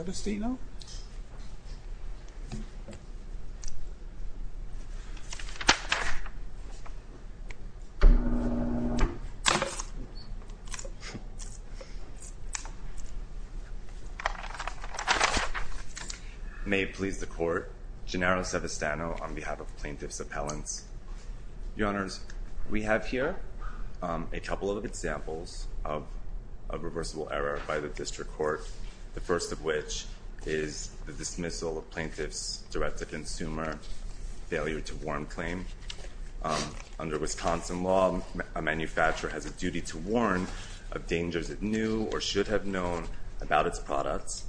May it please the Court, Gennaro Savistano on behalf of Plaintiff's Appellants. Your Honors, we have here a couple of examples of reversible error by the District Court. The first of which is the dismissal of Plaintiff's direct-to-consumer failure-to-warn claim. Under Wisconsin law, a manufacturer has a duty to warn of dangers it knew or should have known about its products.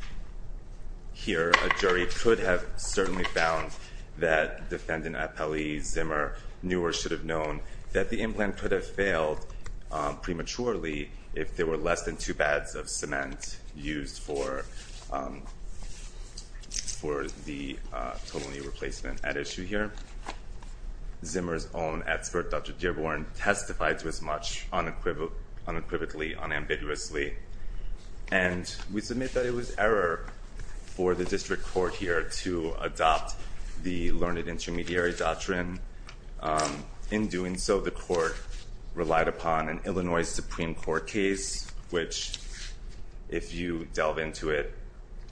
Here, a jury could have certainly found that Defendant Appellee Zimmer knew or should have known that the implant could have failed prematurely if there were less than two pads of cement used for the tonally replacement at issue here. Zimmer's own expert, Dr. Dearborn, testified to as much unequivocally, unambiguously. And we submit that it was error for the District Court here to adopt the learned intermediary doctrine. In doing so, the Court relied upon an Illinois Supreme Court case which, if you delve into it,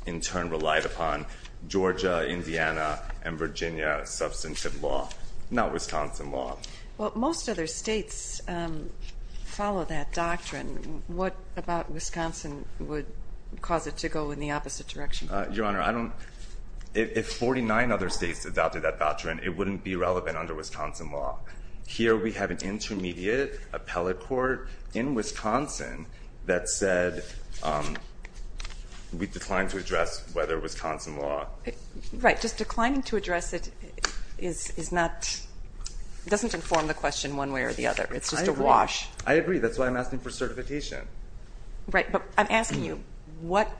in turn relied upon Georgia, Indiana, and Virginia substantive law, not Wisconsin law. Well, most other states follow that doctrine. What about Wisconsin would cause it to go in the opposite direction? Your Honor, if 49 other states adopted that doctrine, it wouldn't be relevant under Wisconsin law. Here we have an intermediate appellate court in Wisconsin that said we declined to address whether Wisconsin law. Right. Just declining to address it is not, doesn't inform the question one way or the other. It's just a wash. I agree. I agree. That's why I'm asking for certification. Right. But I'm asking you, what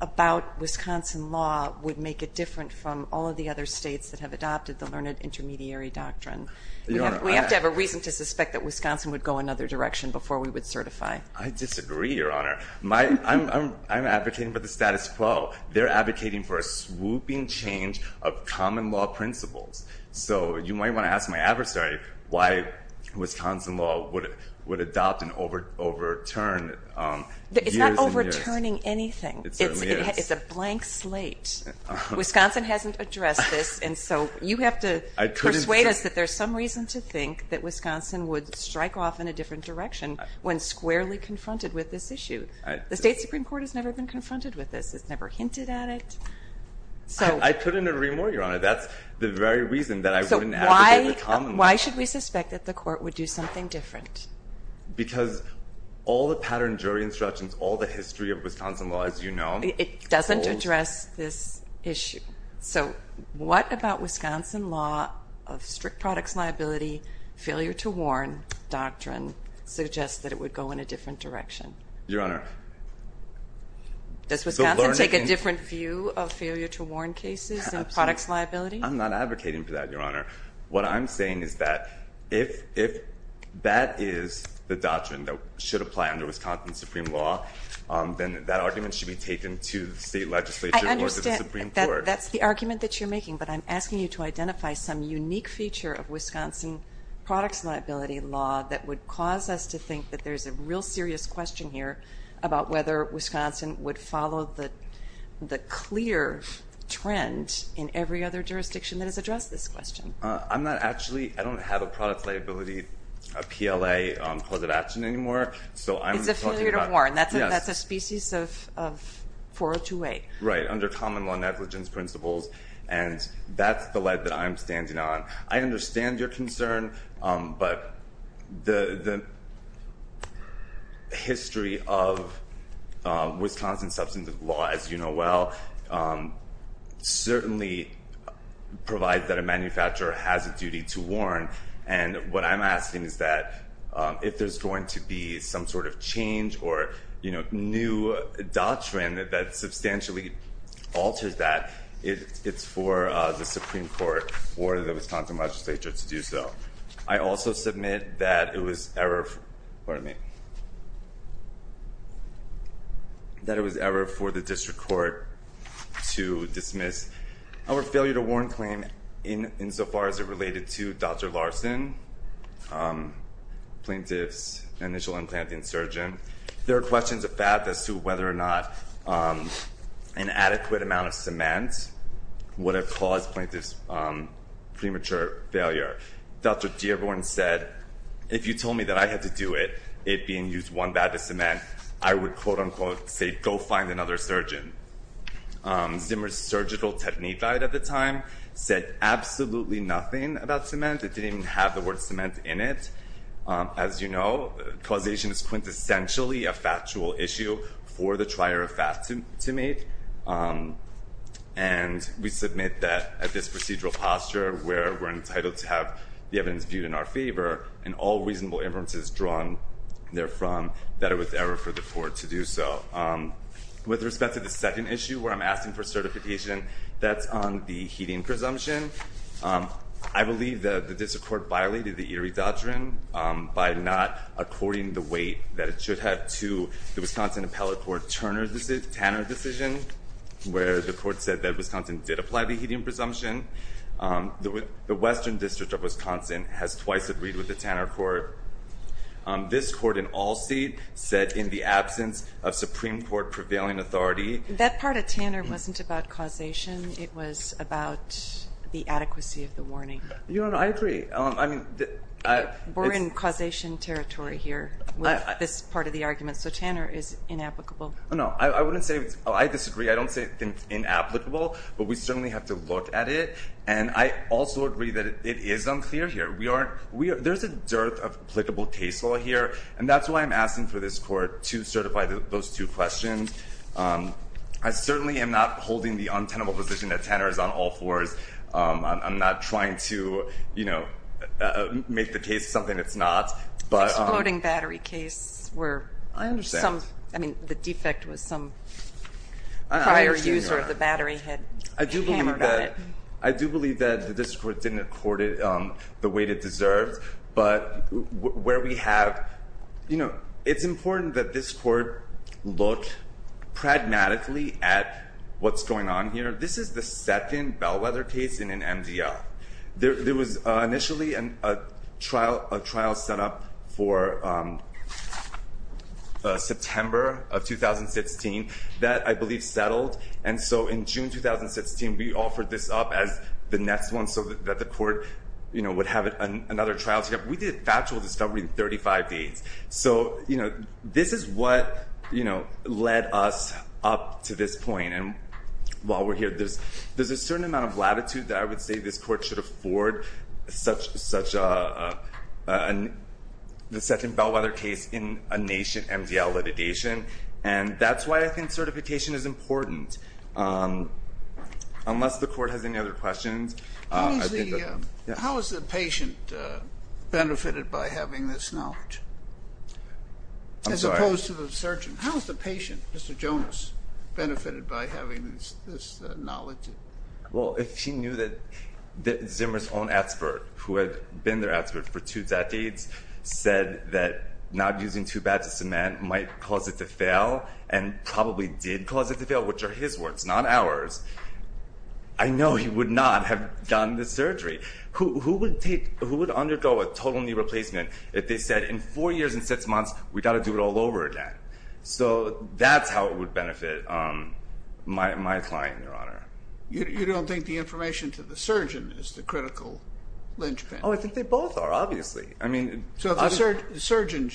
about Wisconsin law would make it different from all of the other states that have adopted the learned intermediary doctrine? We have to have a reason to suspect that Wisconsin would go another direction before we would certify. I disagree, Your Honor. I'm advocating for the status quo. They're advocating for a swooping change of common law principles. So you might want to ask my adversary why Wisconsin law would adopt and overturn years and years. It's not overturning anything. It certainly is. It's a blank slate. Wisconsin hasn't addressed this. And so you have to persuade us that there's some reason to think that Wisconsin would strike off in a different direction when squarely confronted with this issue. The State Supreme Court has never been confronted with this. It's never hinted at it. I couldn't agree more, Your Honor. That's the very reason that I wouldn't advocate the common law. So why should we suspect that the court would do something different? Because all the pattern jury instructions, all the history of Wisconsin law, as you know, holds. It doesn't address this issue. So what about Wisconsin law of strict products liability, failure to warn doctrine, suggests that it would go in a different direction? Your Honor. Does Wisconsin take a different view of failure to warn cases and products liability? I'm not advocating for that, Your Honor. What I'm saying is that if that is the doctrine that should apply under Wisconsin Supreme Law, then that argument should be taken to the state legislature or to the Supreme Court. I understand that that's the argument that you're making, but I'm asking you to identify some unique feature of Wisconsin products liability law that would cause us to think that there's a real serious question here about whether Wisconsin would follow the clear trend in every other jurisdiction that has addressed this question. I'm not actually – I don't have a products liability PLA clause of action anymore. It's a failure to warn. That's a species of 4028. Right, under common law negligence principles. And that's the lead that I'm standing on. I understand your concern, but the history of Wisconsin substantive law, as you know well, certainly provides that a manufacturer has a duty to warn. And what I'm asking is that if there's going to be some sort of change or new doctrine that substantially alters that, it's for the Supreme Court or the Wisconsin legislature to do so. I also submit that it was error – pardon me – that it was error for the district court to dismiss our failure to warn claim insofar as it related to Dr. Larson, plaintiff's initial implanting surgeon. There are questions of fact as to whether or not an adequate amount of cement would have caused plaintiff's premature failure. Dr. Dearborn said, if you told me that I had to do it, it being used one bag of cement, I would quote unquote say, go find another surgeon. Zimmer's surgical technique guide at the time said absolutely nothing about cement. It didn't even have the word cement in it. As you know, causation is quintessentially a factual issue for the trier of fact to make. And we submit that at this procedural posture where we're entitled to have the evidence viewed in our favor and all reasonable inferences drawn therefrom that it was error for the court to do so. With respect to the second issue where I'm asking for certification, that's on the heating presumption. I believe the district court violated the Erie Doctrine by not according the weight that it should have to the Wisconsin appellate court Turner decision, Tanner decision, where the court said that Wisconsin did apply the heating presumption. The Western District of Wisconsin has twice agreed with the Tanner court. This court in all state said in the absence of Supreme Court prevailing authority. That part of Tanner wasn't about causation. It was about the adequacy of the warning. I agree. We're in causation territory here with this part of the argument. So Tanner is inapplicable. I disagree. I don't say it's inapplicable. But we certainly have to look at it. And I also agree that it is unclear here. There's a dearth of applicable case law here. And that's why I'm asking for this court to certify those two questions. I certainly am not holding the untenable position that Tanner is on all fours. I'm not trying to, you know, make the case something it's not. The exploding battery case where the defect was some prior user of the battery had hammered on it. I do believe that the district court didn't accord it the weight it deserved. But where we have, you know, it's important that this court look pragmatically at what's going on here. This is the second bellwether case in an MDL. There was initially a trial set up for September of 2016 that I believe settled. And so in June 2016, we offered this up as the next one so that the court, you know, would have another trial set up. We did a factual discovery in 35 days. So, you know, this is what, you know, led us up to this point. And while we're here, there's a certain amount of latitude that I would say this court should afford such a second bellwether case in a nation MDL litigation. And that's why I think certification is important. Unless the court has any other questions. How has the patient benefited by having this knowledge? I'm sorry. As opposed to the surgeon. How has the patient, Mr. Jonas, benefited by having this knowledge? Well, if she knew that Zimmer's own expert, who had been their expert for two decades, said that not using too bad to cement might cause it to fail, and probably did cause it to fail, which are his words, not ours, I know he would not have done the surgery. Who would undergo a total knee replacement if they said in four years and six months, we've got to do it all over again? So that's how it would benefit my client, Your Honor. You don't think the information to the surgeon is the critical linchpin? Oh, I think they both are, obviously. So the surgeon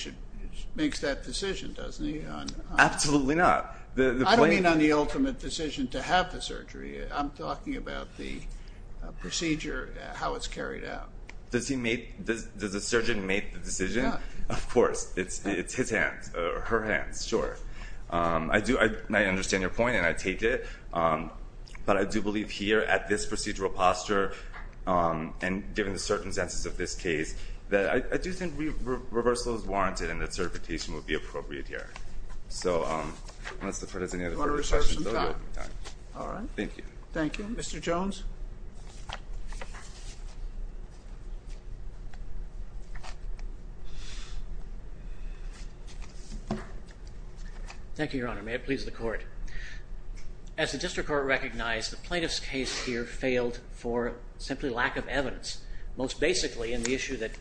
makes that decision, doesn't he? Absolutely not. I don't mean on the ultimate decision to have the surgery. I'm talking about the procedure, how it's carried out. Does the surgeon make the decision? Of course. It's his hands, her hands, sure. I understand your point, and I take it. But I do believe here at this procedural posture, and given the circumstances of this case, that I do think reversal is warranted and that certification would be appropriate here. So unless there's any other further questions, I'll be out of time. Thank you. Thank you. Mr. Jones? Thank you, Your Honor. May it please the Court. As the district court recognized, the plaintiff's case here failed for simply lack of evidence. Most basically, and the issue that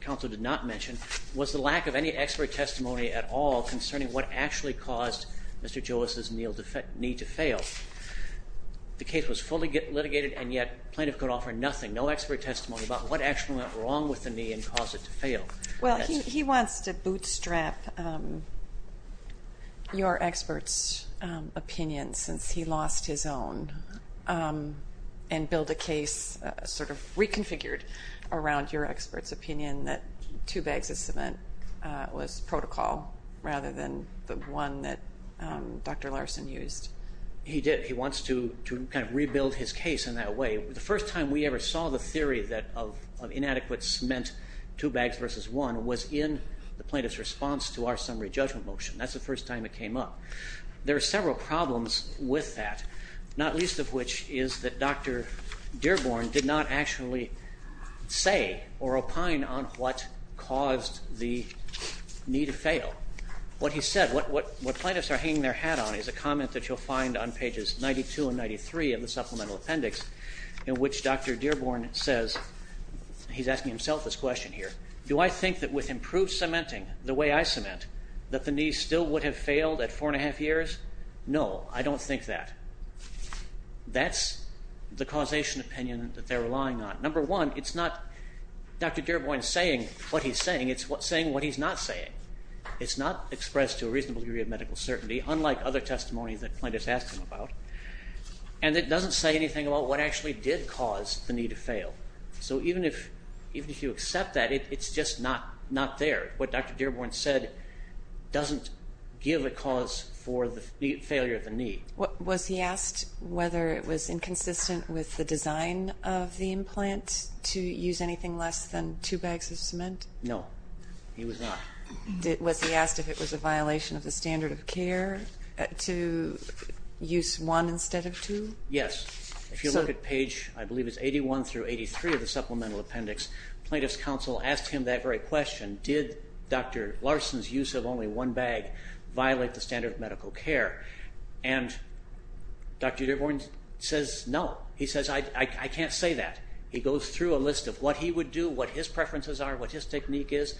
counsel did not mention, was the lack of any expert testimony at all concerning what actually caused Mr. Joas's knee to fail. The case was fully litigated, and yet plaintiff could offer nothing, no expert testimony about what actually went wrong with the knee and caused it to fail. Well, he wants to bootstrap your expert's opinion since he lost his own and build a case sort of reconfigured around your expert's opinion that two bags of cement was protocol rather than the one that Dr. Larson used. He did. He wants to kind of rebuild his case in that way. The first time we ever saw the theory of inadequate cement two bags versus one was in the plaintiff's response to our summary judgment motion. That's the first time it came up. There are several problems with that, not least of which is that Dr. Dearborn did not actually say or opine on what caused the knee to fail. What he said, what plaintiffs are hanging their hat on is a comment that you'll find on pages 92 and 93 of the supplemental appendix in which Dr. Dearborn says, he's asking himself this question here, do I think that with improved cementing the way I cement that the knee still would have failed at four and a half years? No, I don't think that. That's the causation opinion that they're relying on. Number one, it's not Dr. Dearborn saying what he's saying. It's saying what he's not saying. It's not expressed to a reasonable degree of medical certainty, unlike other testimonies that plaintiffs ask him about, and it doesn't say anything about what actually did cause the knee to fail. So even if you accept that, it's just not there. What Dr. Dearborn said doesn't give a cause for the failure of the knee. Was he asked whether it was inconsistent with the design of the implant to use anything less than two bags of cement? No, he was not. Was he asked if it was a violation of the standard of care to use one instead of two? Yes. If you look at page, I believe it's 81 through 83 of the supplemental appendix, plaintiff's counsel asked him that very question, did Dr. Larson's use of only one bag violate the standard of medical care? And Dr. Dearborn says no. He says, I can't say that. He goes through a list of what he would do, what his preferences are, what his technique is,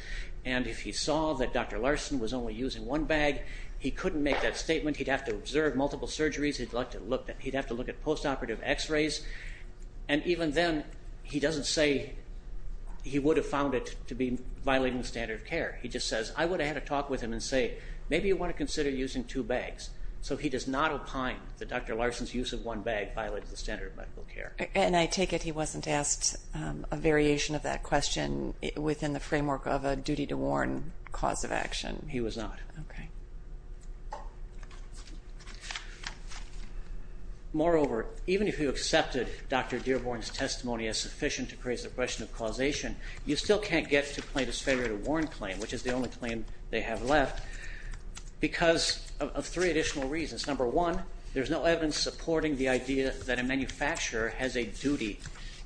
and if he saw that Dr. Larson was only using one bag, he couldn't make that statement. He'd have to observe multiple surgeries. He'd have to look at post-operative x-rays. And even then, he doesn't say he would have found it to be violating the standard of care. He just says, I would have had a talk with him and say, maybe you want to consider using two bags. So he does not opine that Dr. Larson's use of one bag violated the standard of medical care. And I take it he wasn't asked a variation of that question within the framework of a duty to warn cause of action. He was not. Moreover, even if you accepted Dr. Dearborn's testimony as sufficient to raise the question of causation, you still can't get to plaintiff's failure to warn claim, which is the only claim they have left, because of three additional reasons. Number one, there's no evidence supporting the idea that a manufacturer has a duty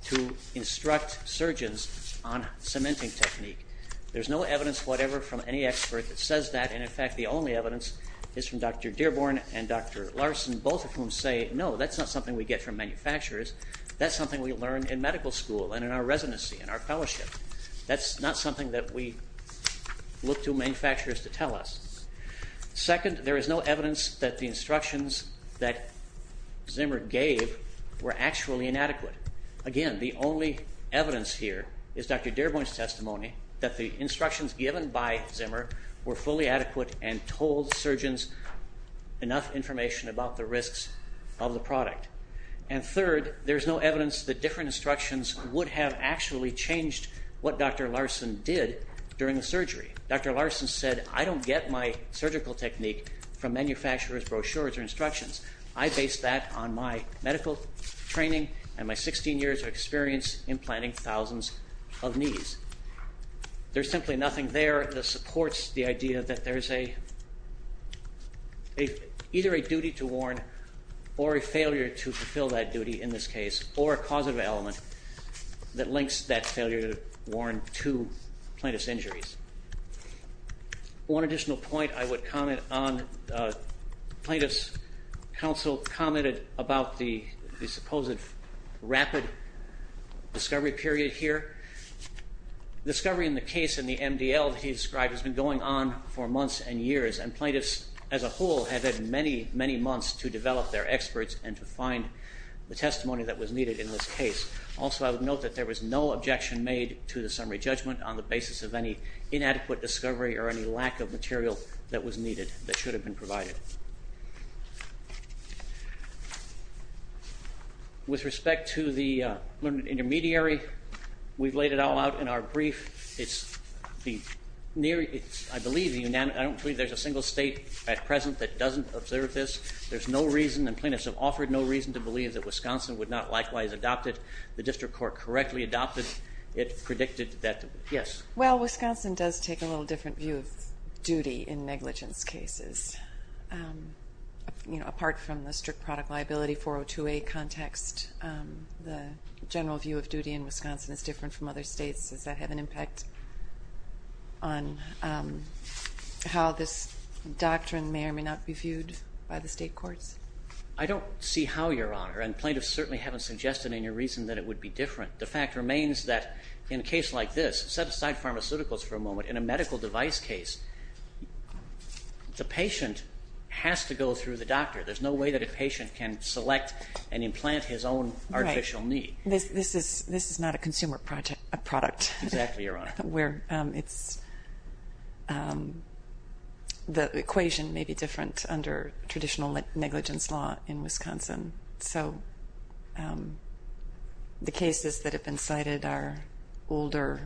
to instruct surgeons on cementing technique. There's no evidence whatever from any expert that says that. And, in fact, the only evidence is from Dr. Dearborn and Dr. Larson, both of whom say, no, that's not something we get from manufacturers. That's something we learn in medical school and in our residency and our fellowship. That's not something that we look to manufacturers to tell us. Second, there is no evidence that the instructions that Zimmer gave were actually inadequate. Again, the only evidence here is Dr. Dearborn's testimony that the instructions given by Zimmer were fully adequate and told surgeons enough information about the risks of the product. And third, there's no evidence that different instructions would have actually changed what Dr. Larson did during the surgery. Dr. Larson said, I don't get my surgical technique from manufacturers' brochures or instructions. I base that on my medical training and my 16 years of experience implanting thousands of knees. There's simply nothing there that supports the idea that there's either a duty to warn or a failure to fulfill that duty in this case, or a causative element that links that failure to warn to plaintiff's injuries. One additional point I would comment on, plaintiff's counsel commented about the supposed rapid discovery period here. Discovery in the case in the MDL that he described has been going on for months and years, and plaintiffs as a whole have had many, many months to develop their experts and to find the testimony that was needed in this case. Also, I would note that there was no objection made to the summary judgment on the basis of any inadequate discovery or any lack of material that was needed that should have been provided. With respect to the learned intermediary, we've laid it all out in our brief. I don't believe there's a single state at present that doesn't observe this. There's no reason, and plaintiffs have offered no reason to believe that Wisconsin would not likewise adopt it. The district court correctly adopted it, predicted that, yes. Well, Wisconsin does take a little different view of duty in negligence cases. Apart from the strict product liability 402A context, the general view of duty in Wisconsin is different from other states that have an impact on how this doctrine may or may not be viewed by the state courts. I don't see how, Your Honor, and plaintiffs certainly haven't suggested any reason that it would be different. The fact remains that in a case like this, set aside pharmaceuticals for a moment. In a medical device case, the patient has to go through the doctor. There's no way that a patient can select and implant his own artificial knee. This is not a consumer product. Exactly, Your Honor. The equation may be different under traditional negligence law in Wisconsin. So the cases that have been cited are older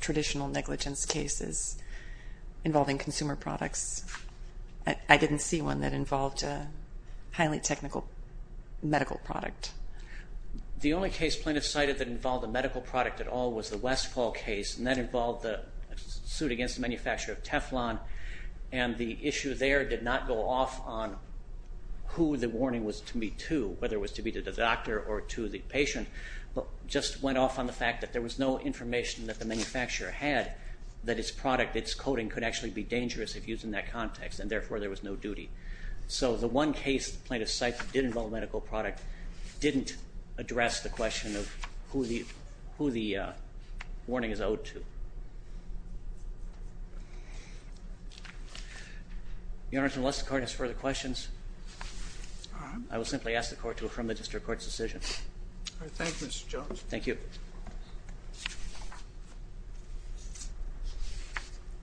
traditional negligence cases involving consumer products. I didn't see one that involved a highly technical medical product. The only case plaintiffs cited that involved a medical product at all was the Westfall case, and that involved a suit against the manufacturer of Teflon, and the issue there did not go off on who the warning was to be to, whether it was to be to the doctor or to the patient, but just went off on the fact that there was no information that the manufacturer had that its product, its coating, could actually be dangerous if used in that context, and therefore there was no duty. So the one case the plaintiffs cite that did involve a medical product didn't address the question of who the warning is owed to. Your Honor, unless the Court has further questions, I will simply ask the Court to affirm the district court's decision. All right. Thank you, Mr. Jones. Thank you.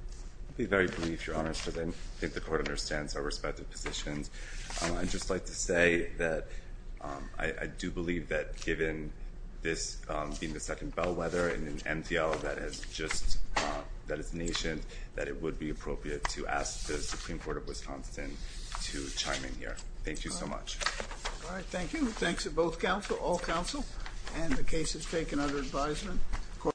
I'll be very brief, Your Honor, because I think the Court understands our respective positions. I'd just like to say that I do believe that given this being the second bellwether in an MDL that is just nation, that it would be appropriate to ask the Supreme Court of Wisconsin to chime in here. Thank you so much. All right. Thank you. Thanks to both counsel, all counsel, and the cases taken under advisement.